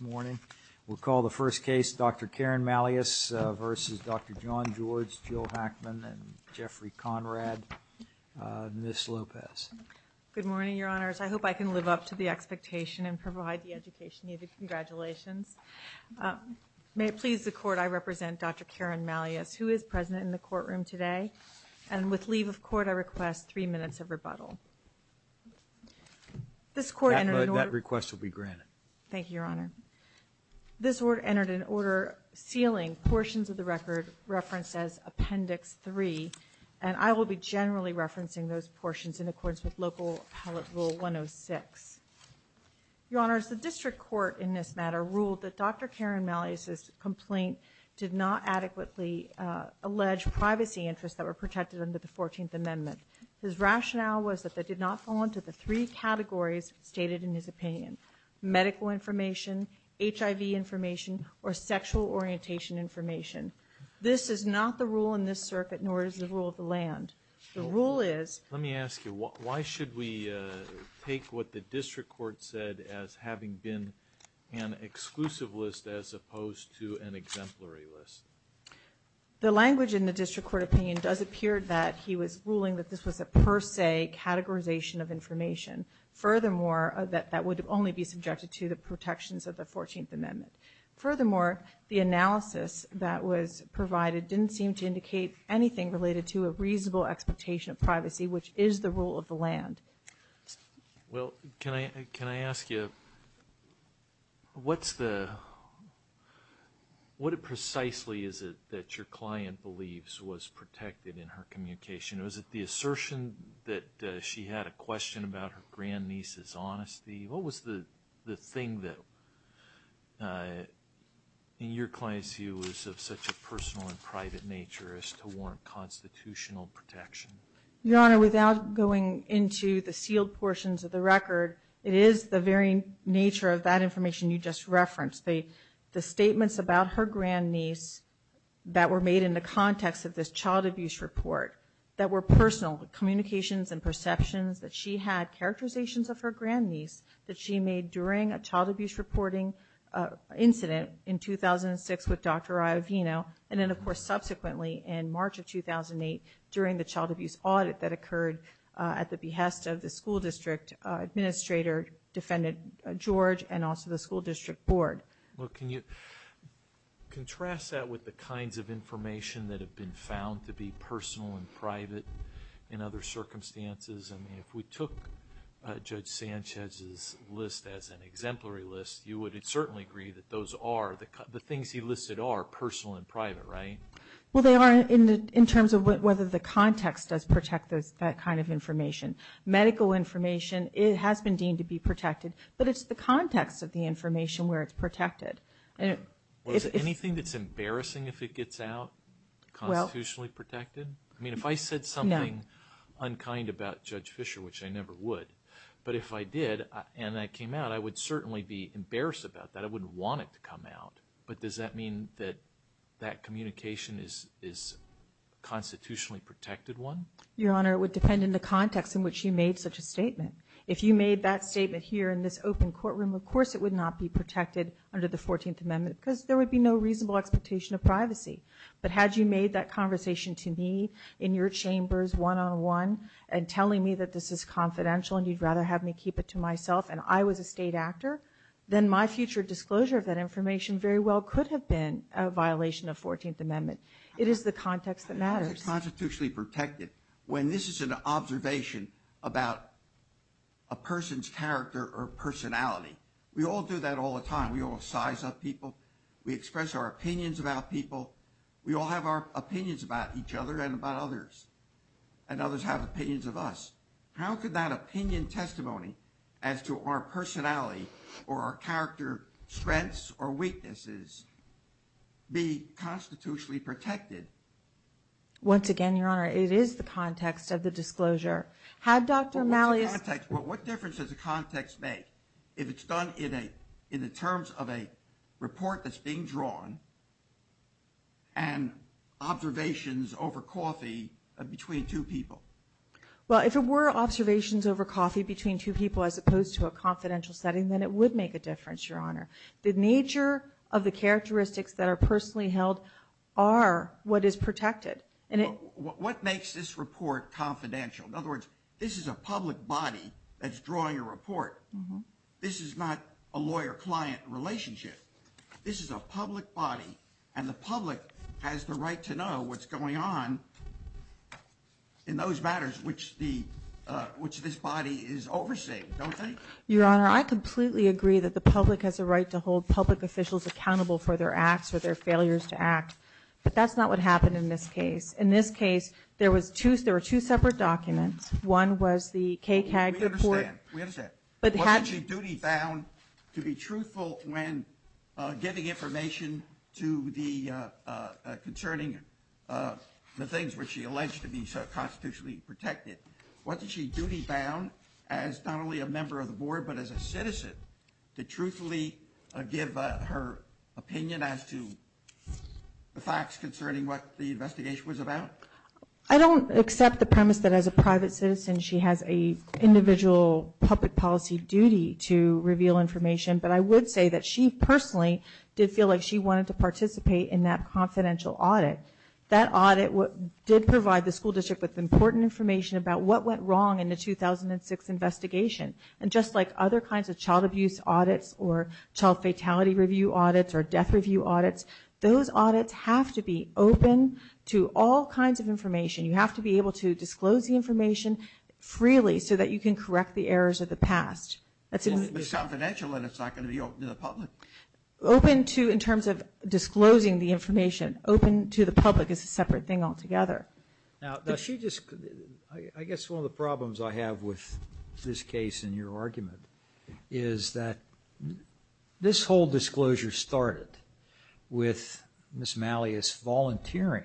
We'll call the first case Dr. Karen Malleus v. Dr. John George, Jill Hackman, and Jeffrey Conrad. Ms. Lopez. Good morning, Your Honors. I hope I can live up to the expectation and provide the education needed. Congratulations. May it please the Court, I represent Dr. Karen Malleus, who is present in the courtroom today. And with leave of court, I request three minutes of rebuttal. This Court entered in order- That request will be granted. Thank you, Your Honor. This Court entered in order sealing portions of the record referenced as Appendix 3, and I will be generally referencing those portions in accordance with Local Appellate Rule 106. Your Honors, the District Court in this matter ruled that Dr. Karen Malleus' complaint did not adequately allege privacy interests that were protected under the 14th Amendment. His rationale was that they did not fall into the three categories stated in his opinion, medical information, HIV information, or sexual orientation information. This is not the rule in this circuit, nor is the rule of the land. The rule is- Let me ask you, why should we take what the District Court said as having been an exclusive list as opposed to an exemplary list? The language in the District Court opinion does appear that he was ruling that this was a per se categorization of information. Furthermore, that that would only be subjected to the protections of the 14th Amendment. Furthermore, the analysis that was provided didn't seem to indicate anything related to a reasonable expectation of privacy, which is the rule of the land. Well, can I ask you, what's the, what precisely is it that your client believes was protected in her communication? Was it the assertion that she had a question about her grandniece's honesty? What was the thing that, in your client's view, was of such a personal and private nature as to warrant constitutional protection? Your Honor, without going into the sealed portions of the record, it is the very nature of that information you just referenced. The statements about her grandniece that were made in the context of this child abuse report that were personal, the communications and perceptions that she had, characterizations of her grandniece that she made during a child abuse reporting incident in 2006 with Dr. Iovino, and then, of course, subsequently in March of 2008 during the child abuse audit that occurred at the behest of the school district administrator, Defendant George, and also the school district board. Well, can you contrast that with the kinds of information that have been found to be personal and private in other circumstances? I mean, if we took Judge Sanchez's list as an exemplary list, you would certainly agree that those are, the things he listed are personal and private, right? Well, they are in terms of whether the context does protect that kind of information. Medical information has been deemed to be protected, but it's the context of the information where it's protected. Well, is there anything that's embarrassing if it gets out, constitutionally protected? I mean, if I said something unkind about Judge Fischer, which I never would, but if I did and that came out, I would certainly be embarrassed about that. I wouldn't want it to come out, but does that mean that that communication is a constitutionally protected one? Your Honor, it would depend on the context in which you made such a statement. If you made that statement here in this open courtroom, of course it would not be protected under the 14th Amendment because there would be no reasonable expectation of privacy. But had you made that conversation to me in your chambers one-on-one and telling me that this is confidential and you'd rather have me keep it to myself and I was a state actor, then my future disclosure of that information very well could have been a violation of 14th Amendment. It is the context that matters. How is it constitutionally protected when this is an observation about a person's character or personality? We all do that all the time. We all size up people. We express our opinions about people. We all have our opinions about each other and about others, and others have opinions of us. How could that opinion testimony as to our personality or our character strengths or weaknesses be constitutionally protected? Once again, Your Honor, it is the context of the disclosure. What difference does the context make if it's done in the terms of a report that's being drawn and observations over coffee between two people? Well, if it were observations over coffee between two people as opposed to a confidential setting, then it would make a difference, Your Honor. The nature of the characteristics that are personally held are what is protected. What makes this report confidential? In other words, this is a public body that's drawing a report. This is not a lawyer-client relationship. This is a public body, and the public has the right to know what's going on in those matters which this body is overseeing, don't they? Your Honor, I completely agree that the public has a right to hold public officials accountable for their acts or their failures to act, but that's not what happened in this case. In this case, there were two separate documents. One was the KCAG report. We understand. We understand. Wasn't she duty-bound to be truthful when giving information concerning the things which she alleged to be constitutionally protected? Wasn't she duty-bound as not only a member of the Board but as a citizen to truthfully give her opinion as to the facts concerning what the investigation was about? I don't accept the premise that as a private citizen, she has an individual public policy duty to reveal information, but I would say that she personally did feel like she wanted to participate in that confidential audit. That audit did provide the school district with important information about what went wrong in the 2006 investigation. And just like other kinds of child abuse audits or child fatality review audits or death review audits, those audits have to be open to all kinds of information. You have to be able to disclose the information freely so that you can correct the errors of the past. It's confidential and it's not going to be open to the public. Open to in terms of disclosing the information. Open to the public is a separate thing altogether. Now, does she just – I guess one of the problems I have with this case and your argument is that this whole disclosure started with Ms. Malleus volunteering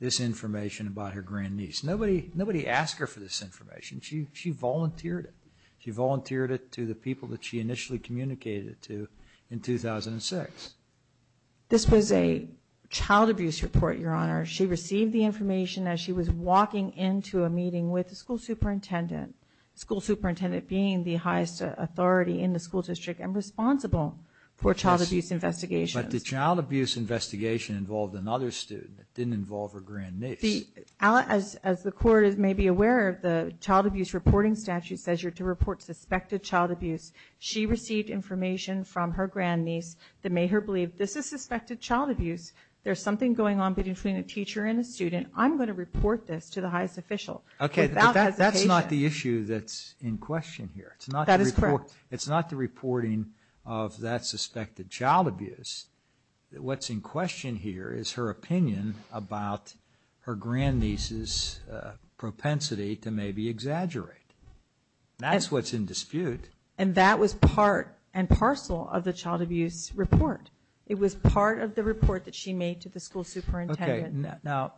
this information about her grandniece. Nobody asked her for this information. She volunteered it. She volunteered it to the people that she initially communicated it to in 2006. This was a child abuse report, Your Honor. She received the information as she was walking into a meeting with the school superintendent, school superintendent being the highest authority in the school district and responsible for child abuse investigations. But the child abuse investigation involved another student. It didn't involve her grandniece. As the court may be aware, the child abuse reporting statute says you're to report suspected child abuse. She received information from her grandniece that made her believe this is suspected child abuse. There's something going on between a teacher and a student. I'm going to report this to the highest official without hesitation. That's not the issue that's in question here. That is correct. It's not the reporting of that suspected child abuse. What's in question here is her opinion about her grandniece's propensity to maybe exaggerate. That's what's in dispute. And that was part and parcel of the child abuse report. It was part of the report that she made to the school superintendent. Okay. Now,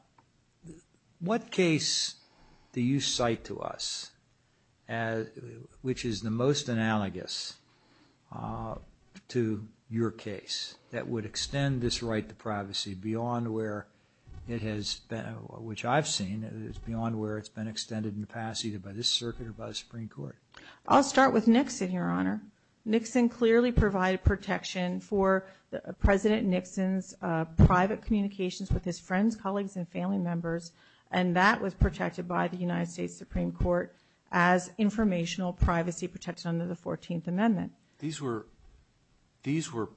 what case do you cite to us which is the most analogous to your case that would extend this right to privacy beyond where it has been, which I've seen, beyond where it's been extended in the past either by this circuit or by the Supreme Court? I'll start with Nixon, Your Honor. Nixon clearly provided protection for President Nixon's private communications with his friends, colleagues, and family members, and that was protected by the United States Supreme Court as informational privacy protection under the 14th Amendment. These were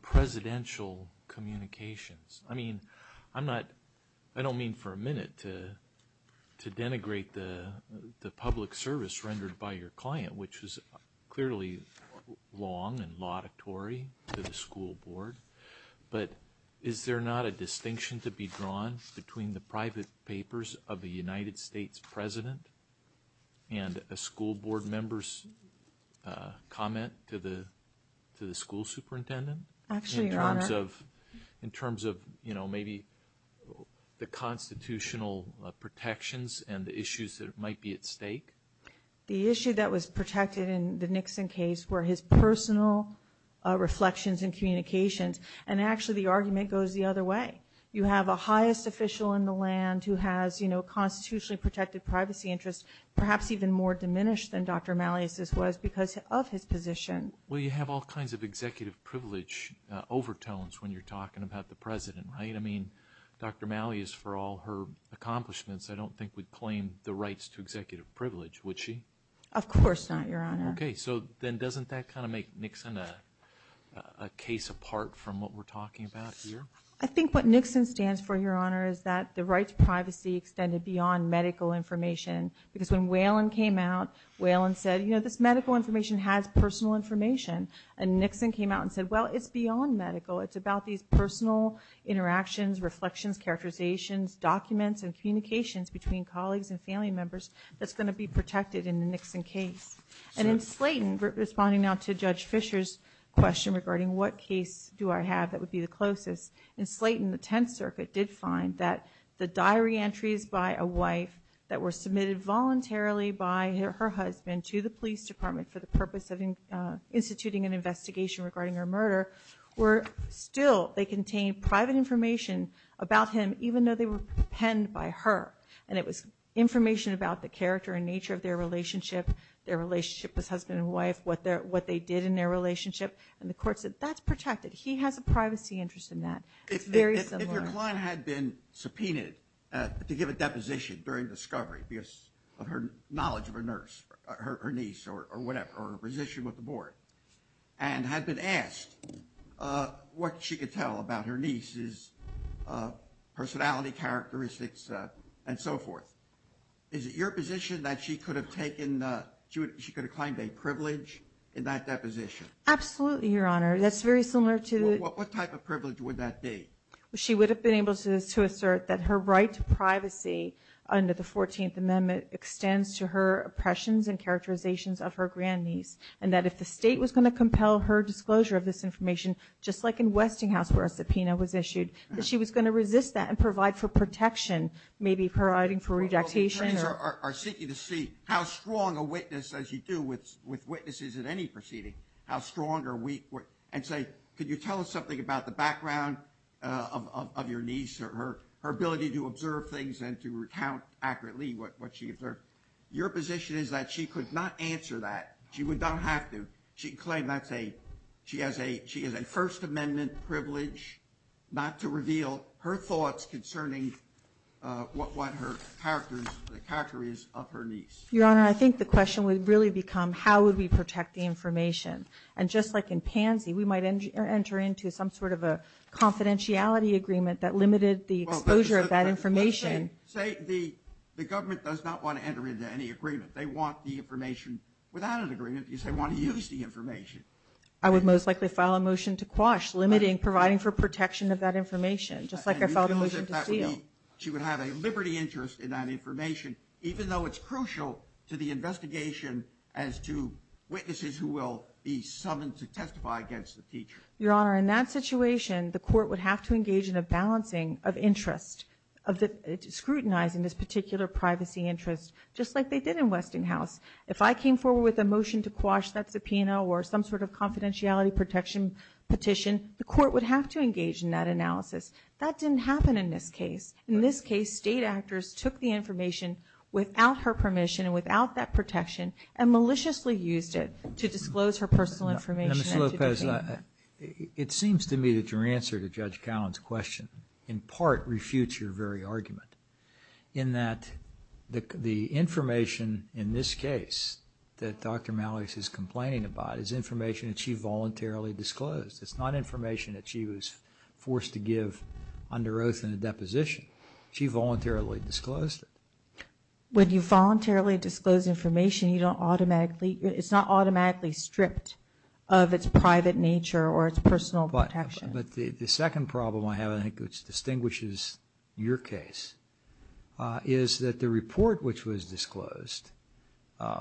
presidential communications. I mean, I don't mean for a minute to denigrate the public service rendered by your client, which was clearly long and laudatory to the school board, but is there not a distinction to be drawn between the private papers of a United States president and a school board member's comment to the school superintendent? Actually, Your Honor. In terms of, you know, maybe the constitutional protections and the issues that might be at stake? The issue that was protected in the Nixon case were his personal reflections and communications, and actually the argument goes the other way. You have a highest official in the land who has, you know, constitutionally protected privacy interests, perhaps even more diminished than Dr. Malleus's was because of his position. Well, you have all kinds of executive privilege overtones when you're talking about the president, right? I mean, Dr. Malleus, for all her accomplishments, I don't think would claim the rights to executive privilege, would she? Of course not, Your Honor. Okay. So then doesn't that kind of make Nixon a case apart from what we're talking about here? I think what Nixon stands for, Your Honor, is that the rights to privacy extended beyond medical information because when Whelan came out, Whelan said, you know, this medical information has personal information, and Nixon came out and said, well, it's beyond medical. It's about these personal interactions, reflections, characterizations, documents, and communications between colleagues and family members that's going to be protected in the Nixon case. And in Slayton, responding now to Judge Fisher's question regarding what case do I have that would be the closest, in Slayton, the Tenth Circuit did find that the diary entries by a wife that were submitted voluntarily by her husband to the police department for the purpose of instituting an investigation regarding her murder still they contained private information about him even though they were penned by her. And it was information about the character and nature of their relationship, their relationship with husband and wife, what they did in their relationship. And the court said, that's protected. He has a privacy interest in that. It's very similar. If your client had been subpoenaed to give a deposition during discovery because of her knowledge of a nurse, her niece, or whatever, or her position with the board, and had been asked what she could tell about her niece's personality, characteristics, and so forth, is it your position that she could have claimed a privilege in that deposition? Absolutely, Your Honor. That's very similar to – What type of privilege would that be? She would have been able to assert that her right to privacy under the 14th Amendment extends to her oppressions and characterizations of her grandniece, and that if the state was going to compel her disclosure of this information, just like in Westinghouse where a subpoena was issued, that she was going to resist that and provide for protection, maybe providing for redactation. Well, the attorneys are seeking to see how strong a witness, as you do with witnesses at any proceeding, how strong or weak, and say, could you tell us something about the background of your niece, or her ability to observe things and to recount accurately what she observed. Your position is that she could not answer that. She would not have to. She could claim that she has a First Amendment privilege not to reveal her thoughts concerning what her character is of her niece. Your Honor, I think the question would really become, how would we protect the information? And just like in Pansy, we might enter into some sort of a confidentiality agreement that limited the exposure of that information. Say the government does not want to enter into any agreement. They want the information without an agreement because they want to use the information. I would most likely file a motion to quash limiting, providing for protection of that information, just like I filed a motion to seal. She would have a liberty interest in that information, even though it's crucial to the investigation as to witnesses who will be summoned to testify against the teacher. Your Honor, in that situation, the court would have to engage in a balancing of interest, scrutinizing this particular privacy interest, just like they did in Westinghouse. If I came forward with a motion to quash that subpoena or some sort of confidentiality protection petition, the court would have to engage in that analysis. That didn't happen in this case. In this case, state actors took the information without her permission and without that protection and maliciously used it to disclose her personal information. Now, Ms. Lopez, it seems to me that your answer to Judge Callen's question in part refutes your very argument, in that the information in this case that Dr. Malloy is complaining about is information that she voluntarily disclosed. It's not information that she was forced to give under oath in a deposition. She voluntarily disclosed it. When you voluntarily disclose information, you don't automatically, it's not automatically stripped of its private nature or its personal protection. But the second problem I have, I think, which distinguishes your case, is that the report which was disclosed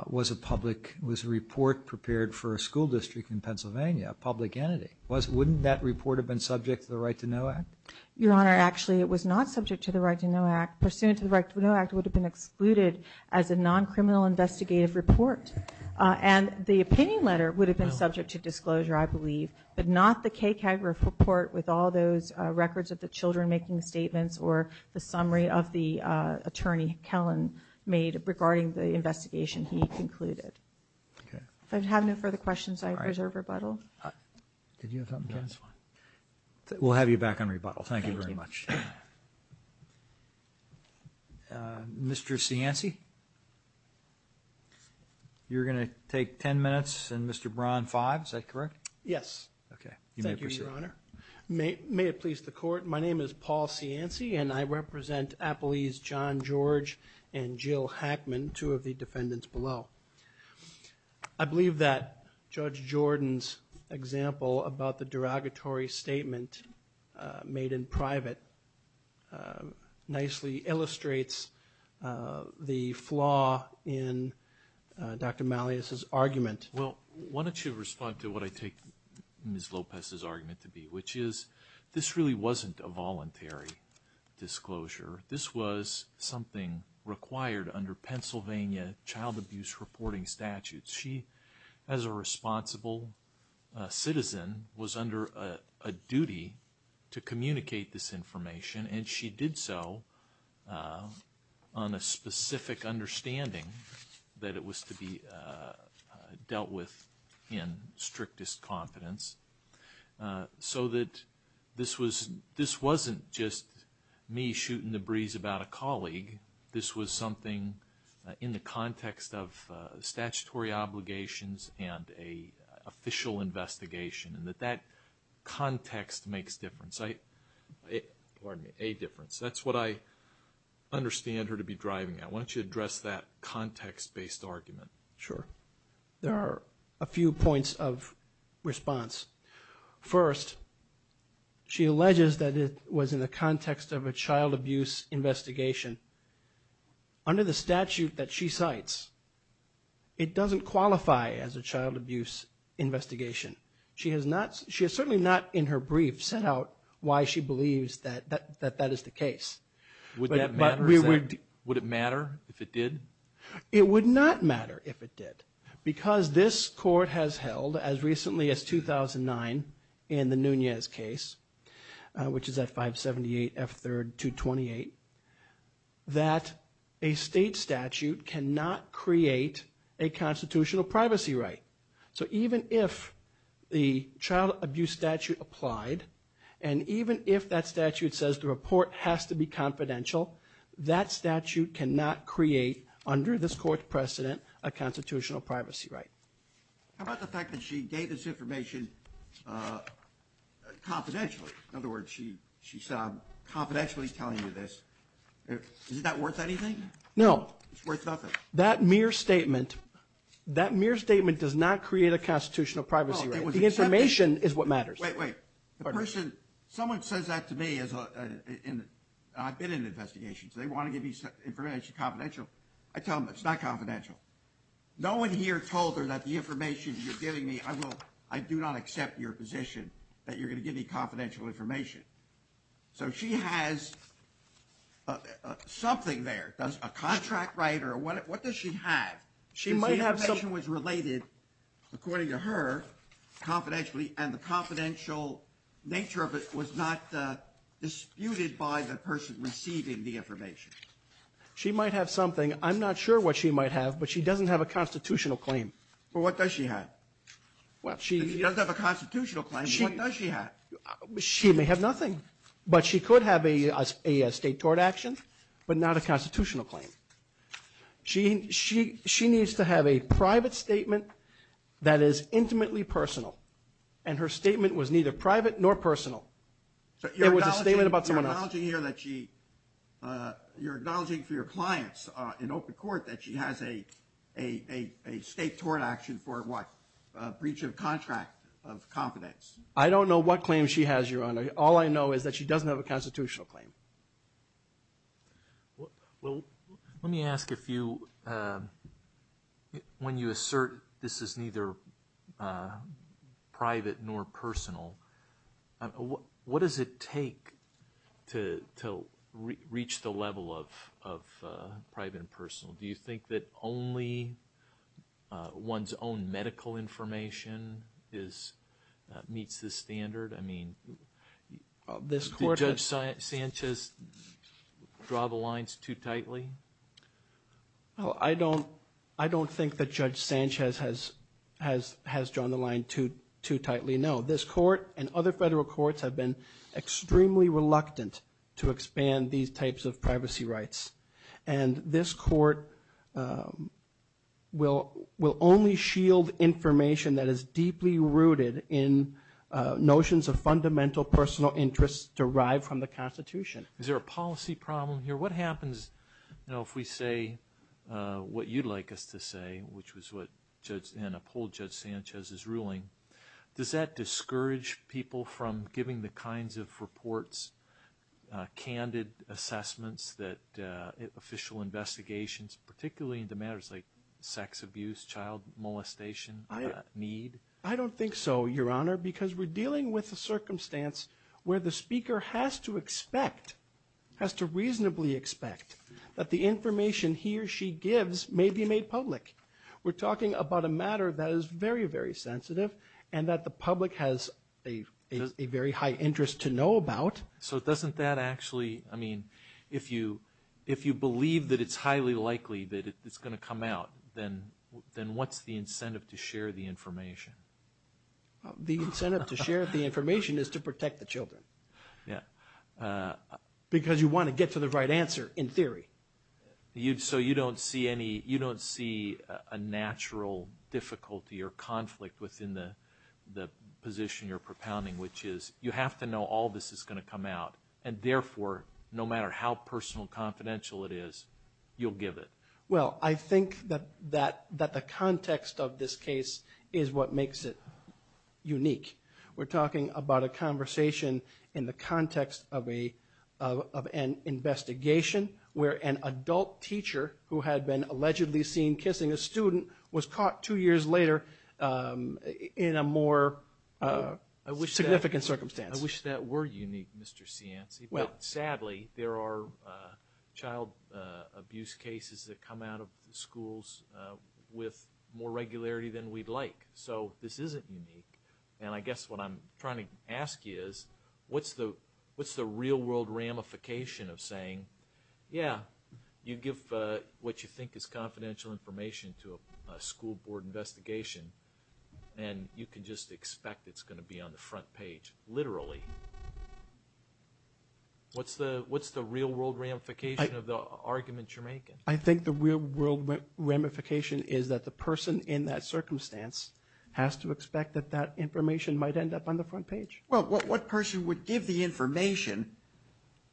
was a public, was a report prepared for a school district in Pennsylvania, a public entity. Wouldn't that report have been subject to the Right to Know Act? Your Honor, actually, it was not subject to the Right to Know Act. Pursuant to the Right to Know Act, it would have been excluded as a non-criminal investigative report. And the opinion letter would have been subject to disclosure, I believe, but not the KCAG report with all those records of the children making statements or the summary of the attorney Callen made regarding the investigation he concluded. If I have no further questions, I reserve rebuttal. Did you have something to add? We'll have you back on rebuttal. Thank you very much. Mr. Cianci, you're going to take ten minutes, and Mr. Braun, five, is that correct? Yes. Okay. Thank you, Your Honor. May it please the Court, my name is Paul Cianci, and I represent Appalese John George and Jill Hackman, two of the defendants below. I believe that Judge Jordan's example about the derogatory statement made in private nicely illustrates the flaw in Dr. Malleus's argument. Well, why don't you respond to what I take Ms. Lopez's argument to be, which is this really wasn't a voluntary disclosure. This was something required under Pennsylvania child abuse reporting statutes. She, as a responsible citizen, was under a duty to communicate this information, and she did so on a specific understanding that it was to be dealt with in strictest confidence so that this wasn't just me shooting the breeze about a colleague. This was something in the context of statutory obligations and an official investigation, and that that context makes a difference. That's what I understand her to be driving at. Why don't you address that context-based argument? Sure. There are a few points of response. First, she alleges that it was in the context of a child abuse investigation. Under the statute that she cites, it doesn't qualify as a child abuse investigation. She has certainly not in her brief set out why she believes that that is the case. Would that matter? Would it matter if it did? It would not matter if it did, because this court has held as recently as 2009 in the Nunez case, which is at 578 F. 3rd 228, that a state statute cannot create a constitutional privacy right. So even if the child abuse statute applied, and even if that statute says the report has to be confidential, that statute cannot create, under this court's precedent, a constitutional privacy right. How about the fact that she gave this information confidentially? In other words, she saw him confidentially telling you this. Is that worth anything? No. It's worth nothing. That mere statement does not create a constitutional privacy right. The information is what matters. Wait, wait. Someone says that to me. I've been in an investigation, so they want to give me confidential. I tell them it's not confidential. No one here told her that the information you're giving me, I do not accept your position that you're going to give me confidential information. So she has something there. Does a contract writer, what does she have? The information was related, according to her, confidentially, and the confidential nature of it was not disputed by the person receiving the information. She might have something. I'm not sure what she might have, but she doesn't have a constitutional claim. Well, what does she have? If she doesn't have a constitutional claim, what does she have? She may have nothing. But she could have a state tort action, but not a constitutional claim. She needs to have a private statement that is intimately personal, and her statement was neither private nor personal. It was a statement about someone else. So you're acknowledging here that she, you're acknowledging for your clients in open court that she has a state tort action for what? A breach of contract of confidence. I don't know what claim she has, Your Honor. All I know is that she doesn't have a constitutional claim. Well, let me ask if you, when you assert this is neither private nor personal, what does it take to reach the level of private and personal? Do you think that only one's own medical information meets this standard? I mean, did Judge Sanchez draw the lines too tightly? I don't think that Judge Sanchez has drawn the line too tightly, no. This court and other federal courts have been extremely reluctant to expand these types of privacy rights, and this court will only shield information that is deeply rooted in notions of fundamental personal interests derived from the Constitution. Is there a policy problem here? What happens, you know, if we say what you'd like us to say, which was what Judge Ann uphold Judge Sanchez's ruling, does that discourage people from giving the kinds of reports, candid assessments, official investigations, particularly into matters like sex abuse, child molestation, need? I don't think so, Your Honor, because we're dealing with a circumstance where the speaker has to expect, has to reasonably expect, that the information he or she gives may be made public. We're talking about a matter that is very, very sensitive and that the public has a very high interest to know about. So doesn't that actually, I mean, if you believe that it's highly likely that it's going to come out, then what's the incentive to share the information? The incentive to share the information is to protect the children. Yeah. Because you want to get to the right answer, in theory. So you don't see any, you don't see a natural difficulty or conflict within the position you're propounding, which is you have to know all this is going to come out, and therefore, no matter how personal and confidential it is, you'll give it. Well, I think that the context of this case is what makes it unique. We're talking about a conversation in the context of an investigation where an adult teacher who had been allegedly seen kissing a student was caught two years later in a more significant circumstance. I wish that were unique, Mr. Cianci, but sadly, there are child abuse cases that come out of schools with more regularity than we'd like. So this isn't unique. And I guess what I'm trying to ask you is, what's the real-world ramification of saying, yeah, you give what you think is confidential information to a school board investigation, and you can just expect it's going to be on the front page, literally? I think the real-world ramification is that the person in that circumstance has to expect that that information might end up on the front page. Well, what person would give the information,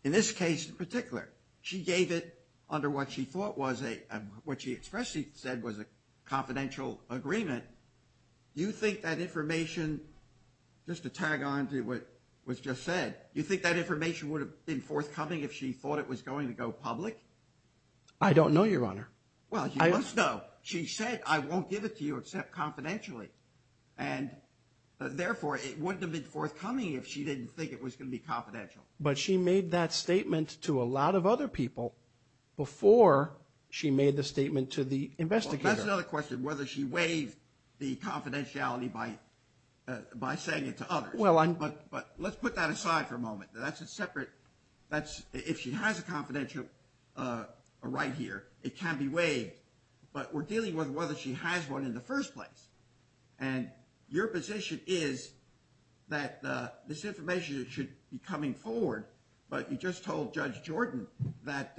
in this case in particular? She gave it under what she thought was a – what she expressly said was a confidential agreement. Do you think that information – just to tag on to what was just said – do you think that information would have been forthcoming if she thought it was going to go public? I don't know, Your Honor. Well, you must know. She said, I won't give it to you except confidentially, and therefore it wouldn't have been forthcoming if she didn't think it was going to be confidential. But she made that statement to a lot of other people before she made the statement to the investigator. Well, that's another question, whether she waived the confidentiality by saying it to others. But let's put that aside for a moment. That's a separate – if she has a confidential right here, it can be waived. But we're dealing with whether she has one in the first place. And your position is that this information should be coming forward, but you just told Judge Jordan that,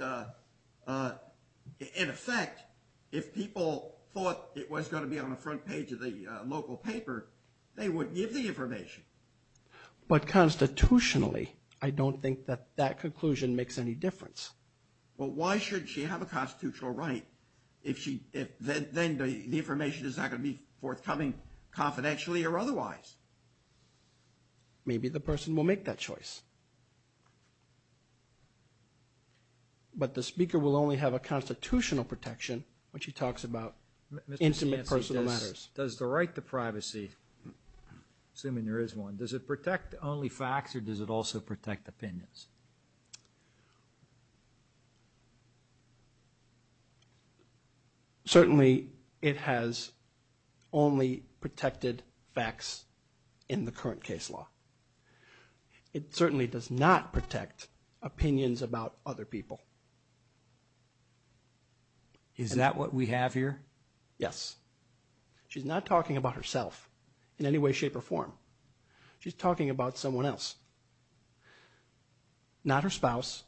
in effect, if people thought it was going to be on the front page of the local paper, they would give the information. But constitutionally, I don't think that that conclusion makes any difference. Well, why should she have a constitutional right if then the information is not going to be forthcoming confidentially or otherwise? Maybe the person will make that choice. But the speaker will only have a constitutional protection when she talks about intimate personal matters. Does the right to privacy, assuming there is one, does it protect only facts or does it also protect opinions? Certainly, it has only protected facts in the current case law. It certainly does not protect opinions about other people. Is that what we have here? Yes. She's not talking about herself in any way, shape, or form. She's talking about someone else, not her spouse,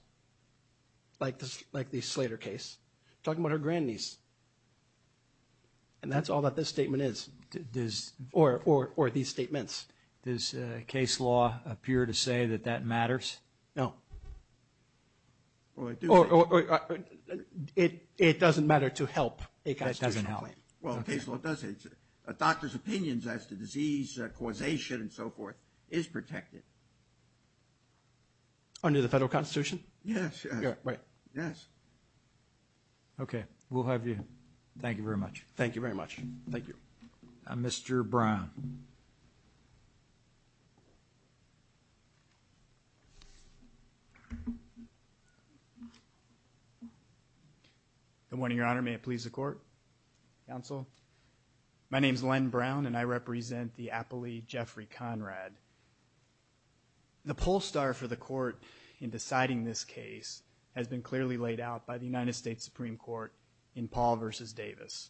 like the Slater case. She's talking about her grandniece. And that's all that this statement is, or these statements. Does case law appear to say that that matters? No. It doesn't matter to help. It doesn't help. Well, case law does. A doctor's opinions as to disease causation and so forth is protected. Under the federal constitution? Yes. Right. Yes. Okay. We'll have you. Thank you very much. Thank you very much. Thank you. Mr. Brown. Good morning, Your Honor. May it please the court, counsel. My name is Len Brown, and I represent the appellee Jeffrey Conrad. The poll star for the court in deciding this case has been clearly laid out by the United States Supreme Court in Paul v. Davis.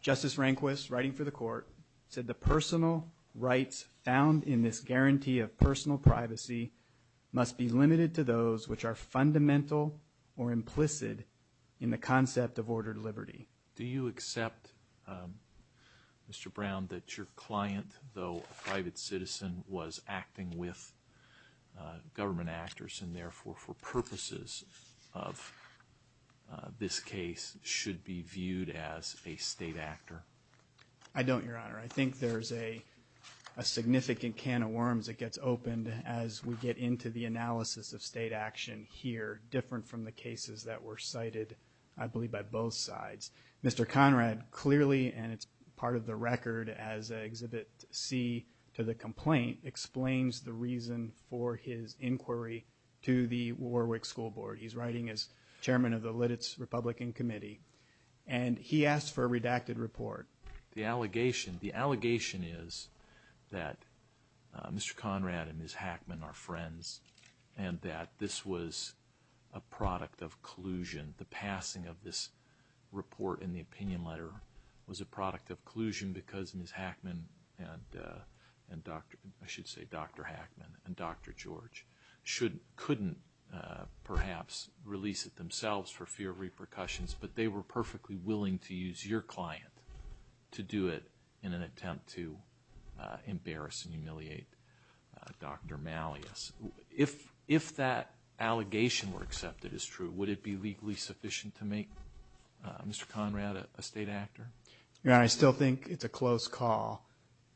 Justice Rehnquist, writing for the court, said the personal rights found in this guarantee of personal privacy must be limited to those which are fundamental or implicit in the concept of ordered liberty. Do you accept, Mr. Brown, that your client, though a private citizen, was acting with government actors and, therefore, for purposes of this case, should be viewed as a state actor? I don't, Your Honor. I think there's a significant can of worms that gets opened as we get into the analysis of state action here, different from the cases that were cited, I believe, by both sides. Mr. Conrad clearly, and it's part of the record as Exhibit C to the complaint, explains the reason for his inquiry to the Warwick School Board. He's writing as chairman of the Lititz Republican Committee, and he asked for a redacted report. The allegation is that Mr. Conrad and Ms. Hackman are friends and that this was a product of collusion. The passing of this report in the opinion letter was a product of collusion because Ms. Hackman and Dr. Hackman and Dr. George couldn't perhaps release it themselves for fear of repercussions, but they were perfectly willing to use your client to do it in an attempt to embarrass and humiliate Dr. Malleus. If that allegation were accepted as true, would it be legally sufficient to make Mr. Conrad a state actor? Your Honor, I still think it's a close call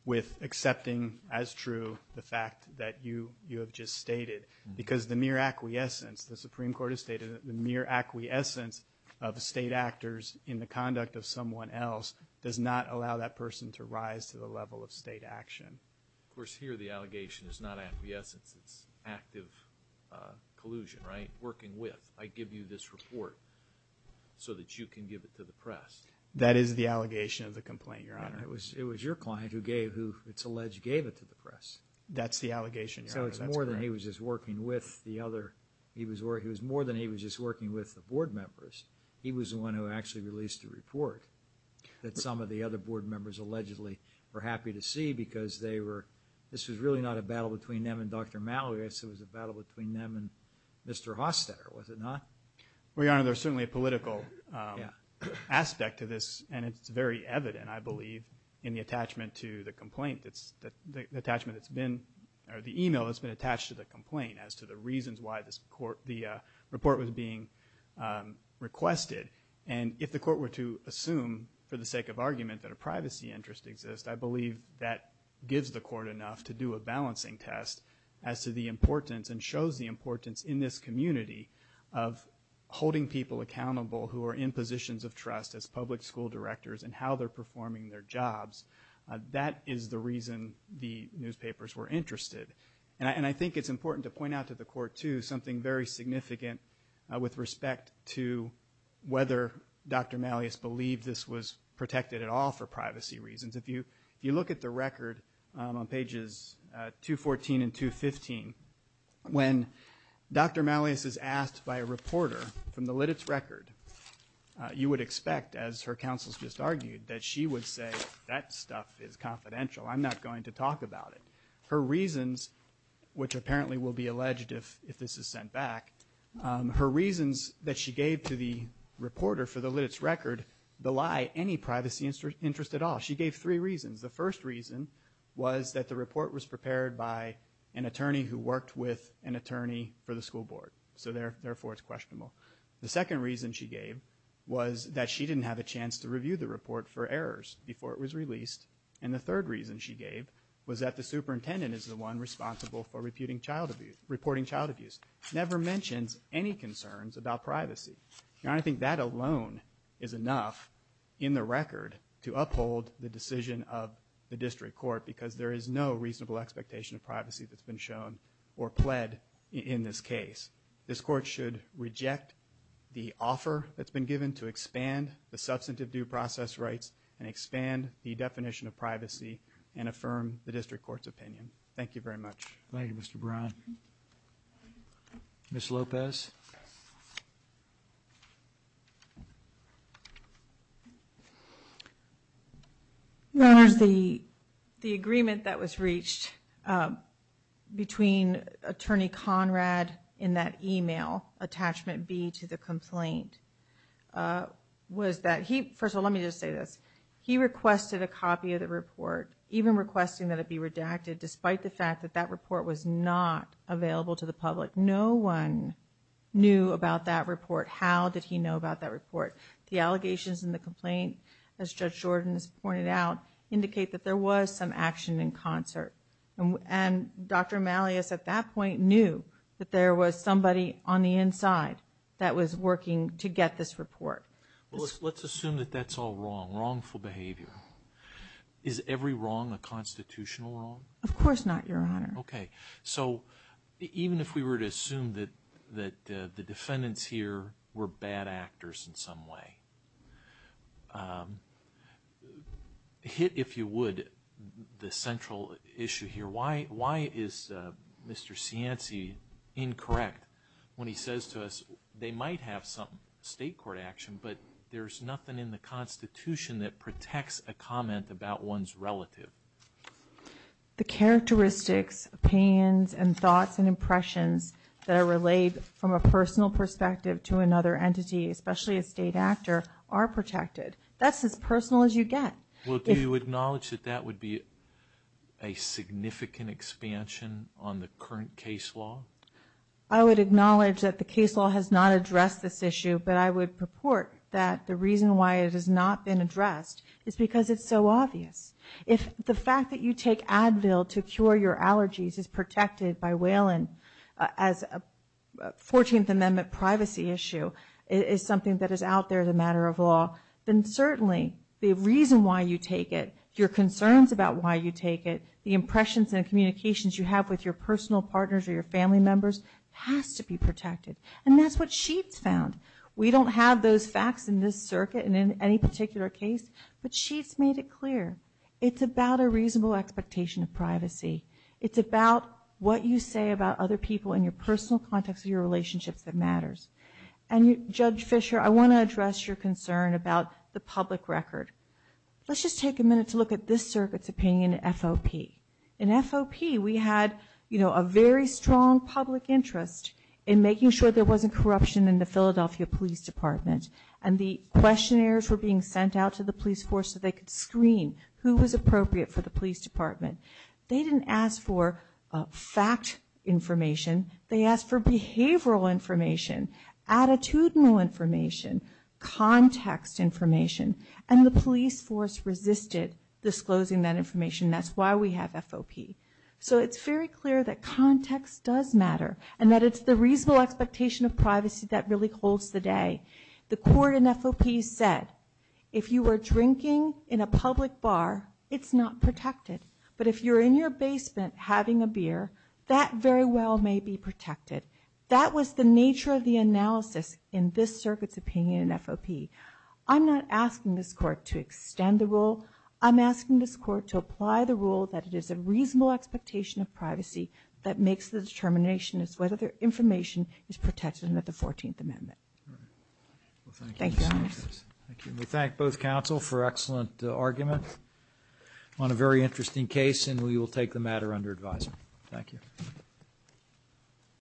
with accepting as true the fact that you have just stated because the mere acquiescence, the Supreme Court has stated that the mere acquiescence of state actors in the conduct of someone else does not allow that person to rise to the level of state action. Of course, here the allegation is not acquiescence. It's active collusion, right, working with. I give you this report so that you can give it to the press. That is the allegation of the complaint, Your Honor. It was your client who gave, who it's alleged gave it to the press. That's the allegation, Your Honor. So it's more than he was just working with the other. He was more than he was just working with the board members. He was the one who actually released the report that some of the other board members allegedly were happy to see because they were, this was really not a battle between them and Dr. Malleus. It was a battle between them and Mr. Hostetter, was it not? Well, Your Honor, there's certainly a political aspect to this, and it's very evident, I believe, in the attachment to the complaint. The attachment that's been, or the email that's been attached to the complaint as to the reasons why the report was being requested. And if the court were to assume for the sake of argument that a privacy interest exists, I believe that gives the court enough to do a balancing test as to the importance and shows the importance in this community of holding people accountable who are in positions of trust as public school directors and how they're performing their jobs. That is the reason the newspapers were interested. And I think it's important to point out to the court, too, something very significant with respect to whether Dr. Malleus believed this was protected at all for privacy reasons. If you look at the record on pages 214 and 215, when Dr. Malleus is asked by a reporter from the Lititz record, you would expect, as her counsels just argued, that she would say that stuff is confidential. I'm not going to talk about it. Her reasons, which apparently will be alleged if this is sent back, her reasons that she gave to the reporter for the Lititz record belie any privacy interest at all. She gave three reasons. The first reason was that the report was prepared by an attorney who worked with an attorney for the school board, so therefore it's questionable. The second reason she gave was that she didn't have a chance to review the report for errors before it was released. And the third reason she gave was that the superintendent is the one responsible for reporting child abuse. Never mentions any concerns about privacy. And I think that alone is enough in the record to uphold the decision of the district court because there is no reasonable expectation of privacy that's been shown or pled in this case. This court should reject the offer that's been given to expand the substantive due process rights and expand the definition of privacy and affirm the district court's opinion. Thank you very much. Thank you, Mr. Brown. Ms. Lopez. Your Honors, the agreement that was reached between Attorney Conrad in that email, attachment B to the complaint, was that he... First of all, let me just say this. He requested a copy of the report, even requesting that it be redacted, despite the fact that that report was not available to the public. No one knew about that report. How did he know about that report? The allegations in the complaint, as Judge Jordan has pointed out, indicate that there was some action in concert. And Dr. Malleus at that point knew that there was somebody on the inside that was working to get this report. Let's assume that that's all wrong, wrongful behavior. Is every wrong a constitutional wrong? Of course not, Your Honor. Okay. So even if we were to assume that the defendants here were bad actors in some way, hit, if you would, the central issue here. Why is Mr. Cianci incorrect when he says to us they might have some state court action, but there's nothing in the Constitution that protects a comment about one's relative? The characteristics, opinions, and thoughts and impressions that are relayed from a personal perspective to another entity, especially a state actor, are protected. That's as personal as you get. Well, do you acknowledge that that would be a significant expansion on the current case law? I would acknowledge that the case law has not addressed this issue, but I would purport that the reason why it has not been addressed is because it's so obvious. If the fact that you take Advil to cure your allergies is protected by Whalen as a 14th Amendment privacy issue is something that is out there as a matter of law, then certainly the reason why you take it, your concerns about why you take it, the impressions and communications you have with your personal partners or your family members has to be protected. And that's what Sheets found. We don't have those facts in this circuit and in any particular case, but Sheets made it clear. It's about a reasonable expectation of privacy. It's about what you say about other people in your personal context of your relationships that matters. And, Judge Fisher, I want to address your concern about the public record. Let's just take a minute to look at this circuit's opinion in FOP. In FOP, we had a very strong public interest in making sure there wasn't corruption in the Philadelphia Police Department, and the questionnaires were being sent out to the police force so they could screen who was appropriate for the police department. They didn't ask for fact information. They asked for behavioral information, attitudinal information, context information, and the police force resisted disclosing that information. That's why we have FOP. So it's very clear that context does matter and that it's the reasonable expectation of privacy that really holds the day. The court in FOP said, if you are drinking in a public bar, it's not protected. But if you're in your basement having a beer, that very well may be protected. That was the nature of the analysis in this circuit's opinion in FOP. I'm not asking this court to extend the rule. I'm asking this court to apply the rule that it is a reasonable expectation of privacy that makes the determination as to whether their information is protected under the 14th Amendment. Thank you. We thank both counsel for excellent argument on a very interesting case, and we will take the matter under advisory. Thank you.